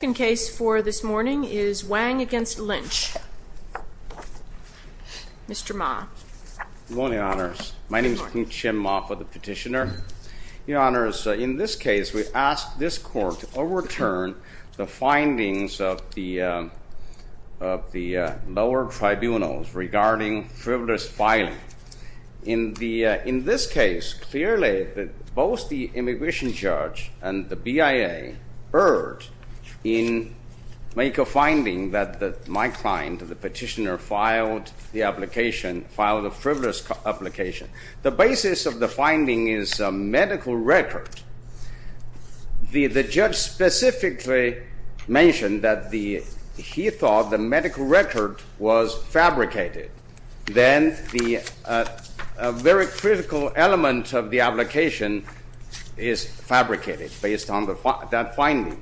The second case for this morning is Wang v. Lynch. Mr. Ma. Good morning, Your Honours. My name is Kim Chin Ma for the Petitioner. Your Honours, in this case, we ask this Court to overturn the findings of the lower tribunals regarding frivolous filing. In this case, clearly, both the immigration judge and the BIA erred in making a finding that my client, the petitioner, filed the application, filed a frivolous application. The basis of the finding is a medical record. The judge specifically mentioned that he thought the medical record was fabricated. Then, a very critical element of the application is fabricated based on that finding.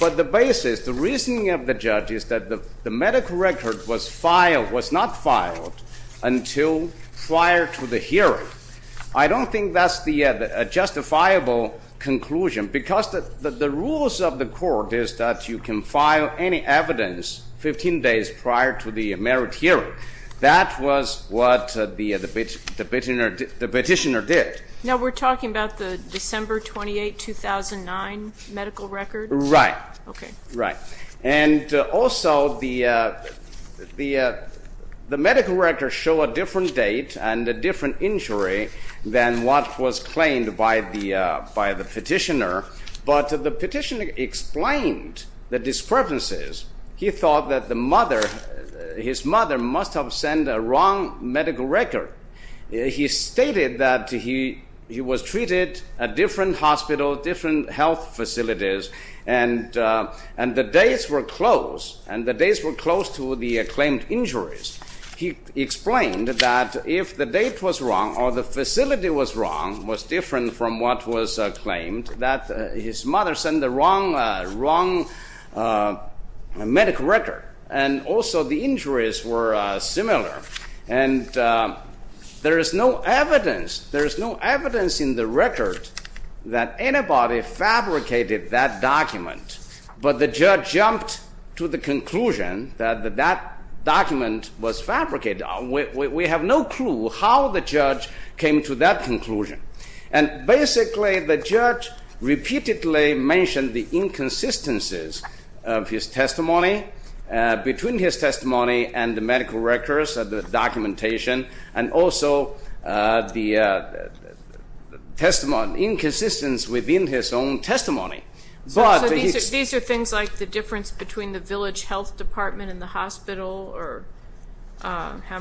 But the basis, the reasoning of the judge is that the medical record was not filed until prior to the hearing. I don't think that's a justifiable conclusion because the rules of the Court is that you can file any evidence 15 days prior to the merit hearing. That was what the petitioner did. Now, we're talking about the December 28, 2009 medical record? Right. Okay. Right. And also, the medical records show a different date and a different injury than what was claimed by the petitioner. But the petitioner explained the discrepancies. He thought that his mother must have sent a wrong medical record. He stated that he was treated at different hospitals, different health facilities, and the dates were close. And the dates were close to the claimed injuries. He explained that if the date was wrong or the facility was wrong, was different from what was claimed, that his mother sent the wrong medical record. And also, the injuries were similar. And there is no evidence. There is no evidence in the record that anybody fabricated that document. But the judge jumped to the conclusion that that document was fabricated. We have no clue how the judge came to that conclusion. And basically, the judge repeatedly mentioned the inconsistencies of his testimony, between his testimony and the medical records, the documentation, and also the inconsistency within his own testimony. These are things like the difference between the village health department and the hospital, or how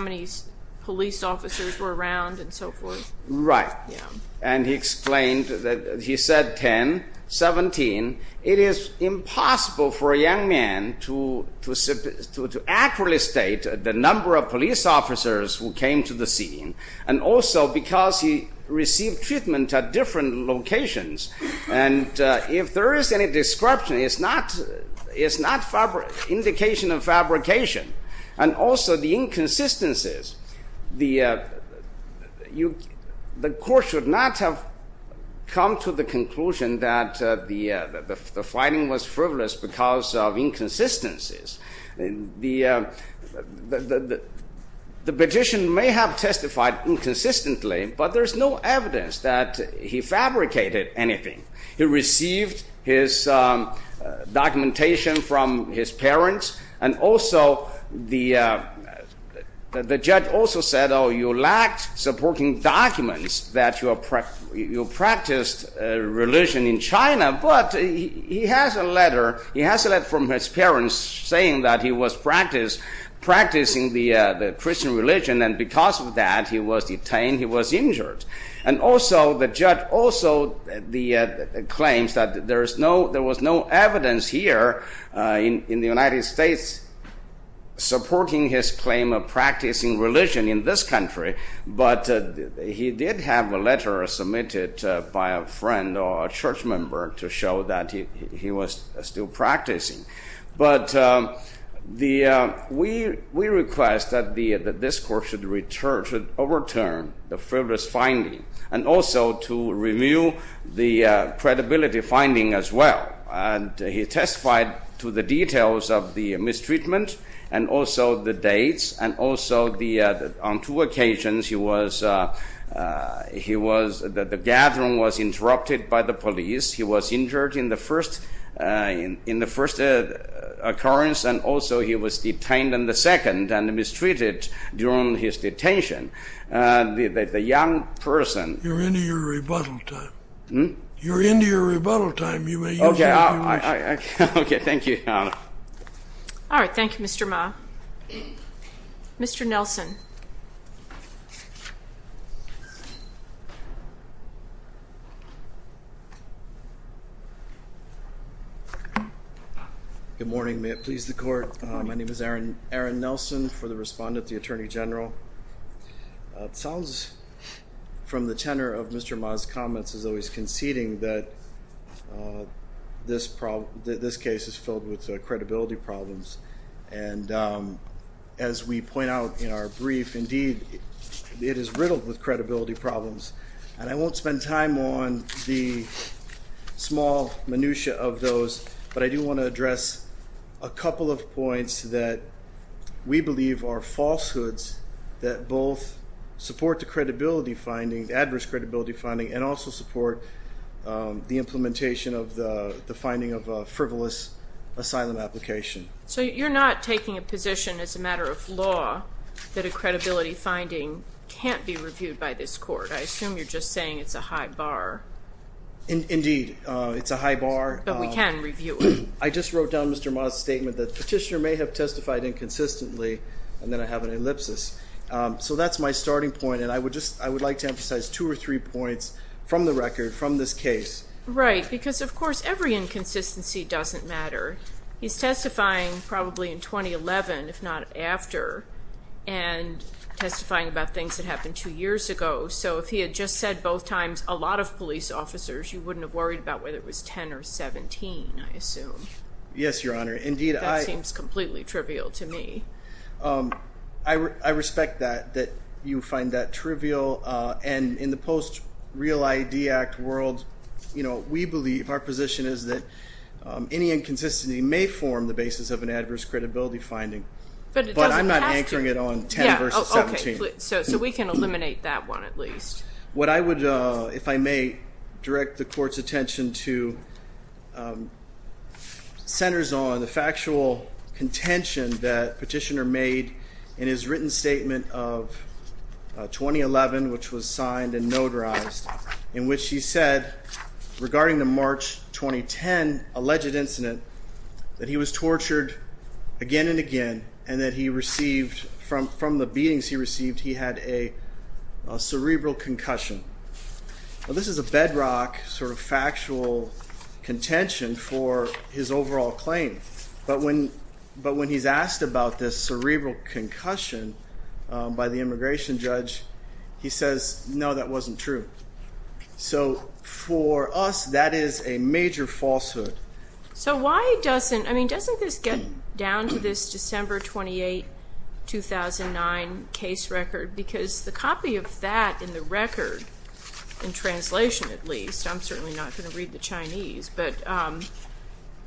many police officers were around, and so forth. Right. And he explained that he said 10, 17. It is impossible for a young man to accurately state the number of police officers who came to the scene. And also, because he received treatment at different locations. And if there is any description, it's not indication of fabrication. And also, the inconsistencies. The court should not have come to the conclusion that the finding was frivolous because of inconsistencies. The petition may have testified inconsistently, but there is no evidence that he fabricated anything. He received his documentation from his parents. And also, the judge also said, oh, you lacked supporting documents that you practiced religion in China. But he has a letter from his parents saying that he was practicing the Christian religion, and because of that, he was detained, he was injured. And also, the judge also claims that there was no evidence here in the United States supporting his claim of practicing religion in this country. But he did have a letter submitted by a friend or a church member to show that he was still practicing. But we request that this court should overturn the frivolous finding and also to review the credibility finding as well. And he testified to the details of the mistreatment and also the dates. And also, on two occasions, the gathering was interrupted by the police. He was injured in the first occurrence. And also, he was detained in the second and mistreated during his detention. You're into your rebuttal time. You're into your rebuttal time. Okay. Thank you. All right. Thank you, Mr. Ma. Mr. Nelson. Good morning. May it please the court. My name is Aaron Nelson for the respondent, the Attorney General. It sounds from the tenor of Mr. Ma's comments as though he's conceding that this case is filled with credibility problems. And as we point out in our brief, indeed, it is riddled with credibility problems. And I won't spend time on the small minutiae of those. But I do want to address a couple of points that we believe are falsehoods that both support the credibility finding, the adverse credibility finding, and also support the implementation of the finding of a frivolous asylum application. So you're not taking a position as a matter of law that a credibility finding can't be reviewed by this court. I assume you're just saying it's a high bar. Indeed. It's a high bar. But we can review it. I just wrote down Mr. Ma's statement that the petitioner may have testified inconsistently. And then I have an ellipsis. So that's my starting point. And I would like to emphasize two or three points from the record, from this case. Right. Because, of course, every inconsistency doesn't matter. He's testifying probably in 2011, if not after, and testifying about things that happened two years ago. So if he had just said both times a lot of police officers, you wouldn't have worried about whether it was 10 or 17, I assume. Yes, Your Honor. Indeed, I... That seems completely trivial to me. I respect that, that you find that trivial. And in the post-Real ID Act world, you know, we believe, our position is that any inconsistency may form the basis of an adverse credibility finding. But it doesn't have to. But I'm not anchoring it on 10 versus 17. So we can eliminate that one, at least. What I would, if I may, direct the Court's attention to centers on the factual contention that Petitioner made in his written statement of 2011, which was signed and notarized. In which he said, regarding the March 2010 alleged incident, that he was tortured again and again. And that he received, from the beatings he received, he had a cerebral concussion. Now this is a bedrock sort of factual contention for his overall claim. But when he's asked about this cerebral concussion by the immigration judge, he says, no, that wasn't true. So for us, that is a major falsehood. So why doesn't, I mean, doesn't this get down to this December 28, 2009 case record? Because the copy of that in the record, in translation at least, I'm certainly not going to read the Chinese. But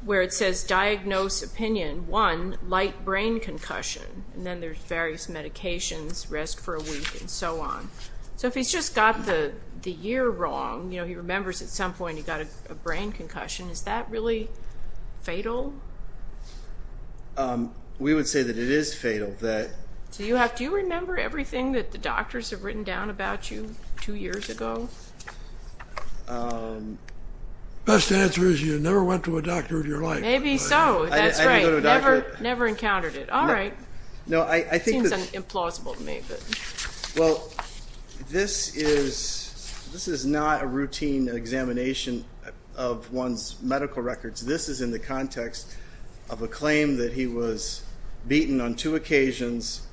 where it says, diagnose opinion, one, light brain concussion. And then there's various medications, rest for a week, and so on. So if he's just got the year wrong, you know, he remembers at some point he got a brain concussion. Is that really fatal? We would say that it is fatal. Do you remember everything that the doctors have written down about you two years ago? Best answer is you never went to a doctor in your life. Maybe so. That's great. Never encountered it. All right. Seems implausible to me. Well, this is not a routine examination of one's medical records. This is in the context of a claim that he was beaten on two occasions,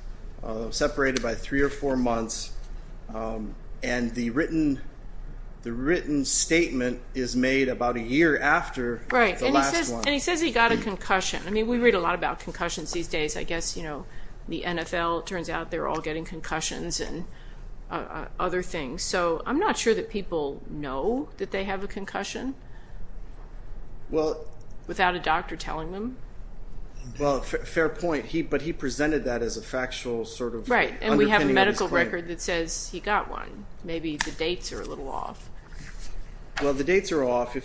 separated by three or four months. And the written statement is made about a year after the last one. Right. And he says he got a concussion. I mean, we read a lot about concussions these days. I guess, you know, the NFL, it turns out they're all getting concussions and other things. So I'm not sure that people know that they have a concussion without a doctor telling them. Well, fair point. But he presented that as a factual sort of underpinning of his claim. Right. And we have a medical record that says he got one. Maybe the dates are a little off. Well, the dates are off.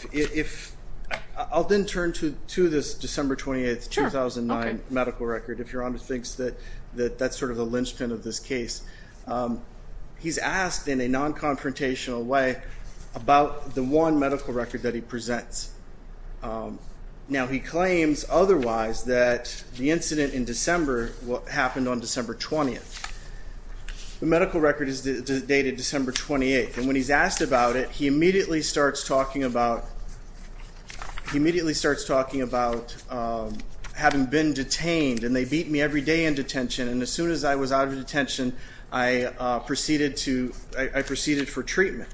I'll then turn to this December 28, 2009 medical record, if Your Honor thinks that that's sort of the linchpin of this case. He's asked in a non-confrontational way about the one medical record that he presents. Now, he claims otherwise that the incident in December happened on December 20th. The medical record is dated December 28th. And when he's asked about it, he immediately starts talking about having been detained. And they beat me every day in detention. And as soon as I was out of detention, I proceeded for treatment.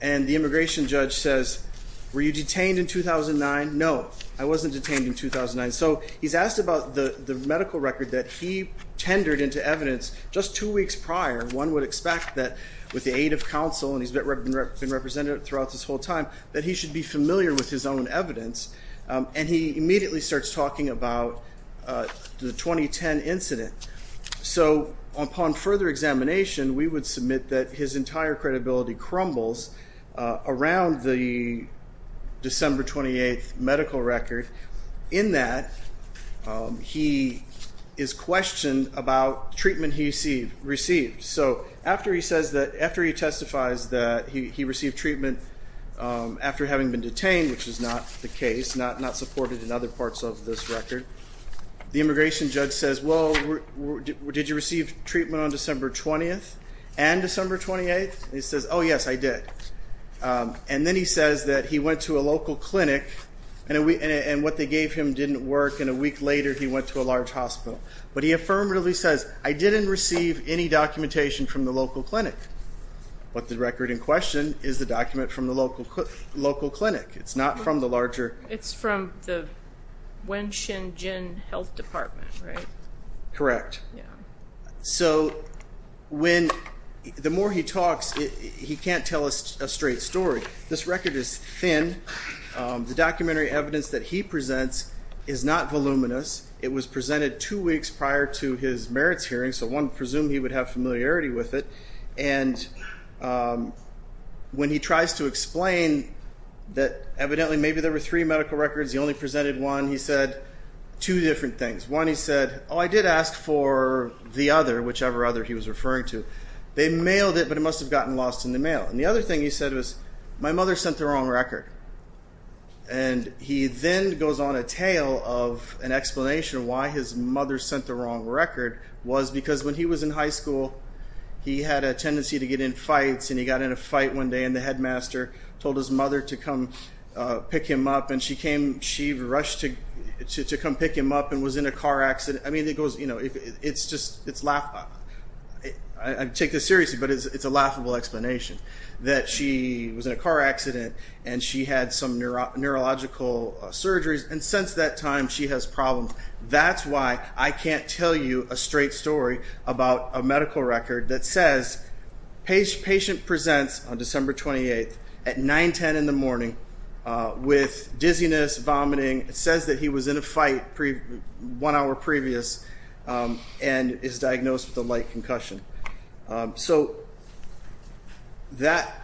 And the immigration judge says, were you detained in 2009? No, I wasn't detained in 2009. So he's asked about the medical record that he tendered into evidence just two weeks prior. One would expect that with the aid of counsel, and he's been represented throughout this whole time, that he should be familiar with his own evidence. And he immediately starts talking about the 2010 incident. So upon further examination, we would submit that his entire credibility crumbles around the December 28th medical record. In that, he is questioned about treatment he received. So after he testifies that he received treatment after having been detained, which is not the case, not supported in other parts of this record, the immigration judge says, well, did you receive treatment on December 20th and December 28th? And he says, oh, yes, I did. And then he says that he went to a local clinic, and what they gave him didn't work. And a week later, he went to a large hospital. But he affirmatively says, I didn't receive any documentation from the local clinic. But the record in question is the document from the local clinic. It's not from the larger. It's from the Wenxin Jin Health Department, right? Correct. So when the more he talks, he can't tell us a straight story. This record is thin. The documentary evidence that he presents is not voluminous. It was presented two weeks prior to his merits hearing. So one presumed he would have familiarity with it. And when he tries to explain that evidently maybe there were three medical records, he only presented one. He said two different things. One, he said, oh, I did ask for the other, whichever other he was referring to. They mailed it, but it must have gotten lost in the mail. And the other thing he said was, my mother sent the wrong record. And he then goes on a tale of an explanation of why his mother sent the wrong record, was because when he was in high school, he had a tendency to get in fights. And he got in a fight one day, and the headmaster told his mother to come pick him up. And she rushed to come pick him up and was in a car accident. I mean, it goes, you know, it's just laughable. I take this seriously, but it's a laughable explanation that she was in a car accident, and she had some neurological surgeries. And since that time, she has problems. That's why I can't tell you a straight story about a medical record that says, patient presents on December 28th at 9, 10 in the morning with dizziness, vomiting. It says that he was in a fight one hour previous and is diagnosed with a light concussion. So that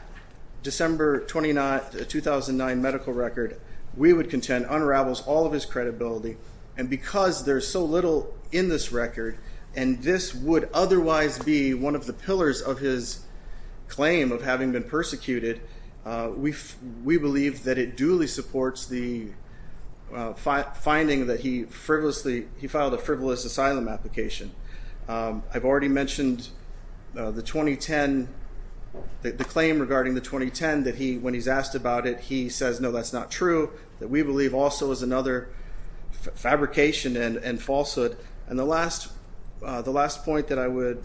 December 29, 2009 medical record, we would contend, unravels all of his credibility. And because there's so little in this record, and this would otherwise be one of the pillars of his claim of having been persecuted, we believe that it duly supports the finding that he frivolously, he filed a frivolous asylum application. I've already mentioned the 2010, the claim regarding the 2010 that he, when he's asked about it, he says, no, that's not true, that we believe also is another fabrication and falsehood. And the last point that I would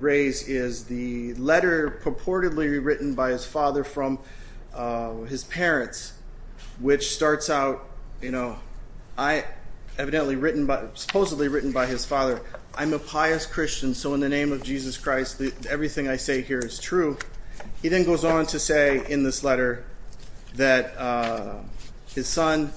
raise is the letter purportedly written by his father from his parents, which starts out, you know, evidently written by, supposedly written by his father. I'm a pious Christian, so in the name of Jesus Christ, everything I say here is true. He then goes on to say in this letter that his son,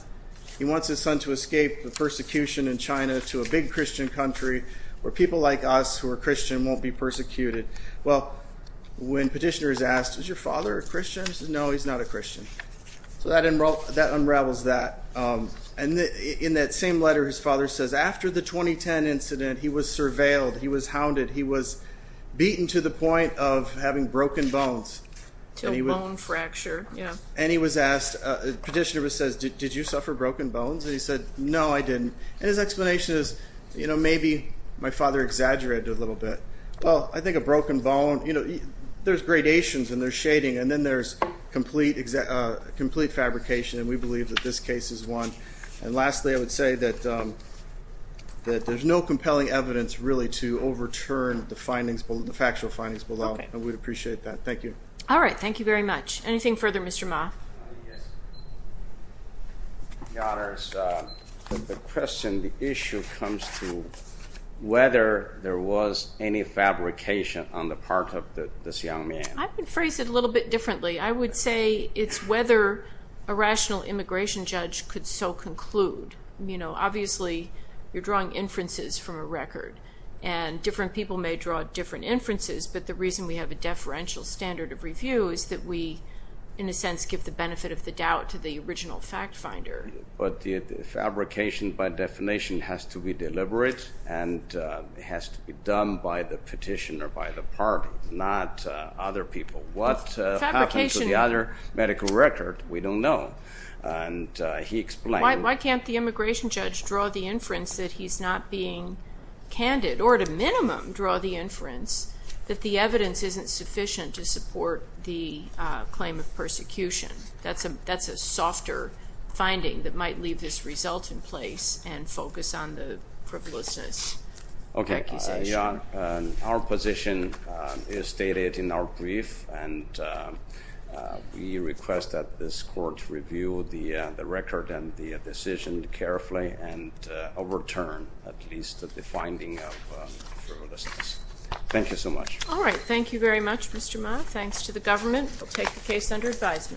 he wants his son to escape the persecution in China to a big Christian country where people like us who are Christian won't be persecuted. Well, when petitioner is asked, is your father a Christian? He says, no, he's not a Christian. So that unravels that. And in that same letter, his father says, after the 2010 incident, he was surveilled, he was hounded, he was beaten to the point of having broken bones. To a bone fracture, yeah. And he was asked, petitioner says, did you suffer broken bones? And he said, no, I didn't. And his explanation is, you know, maybe my father exaggerated a little bit. Well, I think a broken bone, you know, there's gradations and there's shading and then there's complete fabrication and we believe that this case is one. And lastly, I would say that there's no compelling evidence really to overturn the findings, the factual findings below. And we'd appreciate that. Thank you. All right. Thank you very much. Anything further, Mr. Ma? Yes. Your Honor, the question, the issue comes to whether there was any fabrication on the part of this young man. I would phrase it a little bit differently. I would say it's whether a rational immigration judge could so conclude. You know, obviously, you're drawing inferences from a record. And different people may draw different inferences, but the reason we have a deferential standard of review is that we, in a sense, give the benefit of the doubt to the original fact finder. But the fabrication, by definition, has to be deliberate and it has to be done by the petitioner, by the party, not other people. What happened to the other medical record, we don't know. And he explained why can't the immigration judge draw the inference that he's not being candid or at a minimum draw the inference that the evidence isn't sufficient to support the claim of persecution. That's a softer finding that might leave this result in place and focus on the privileges. Okay. Our position is stated in our brief, and we request that this court review the record and the decision carefully and overturn at least the finding of frivolousness. Thank you so much. All right. Thank you very much, Mr. Ma. Thanks to the government. We'll take the case under advisement.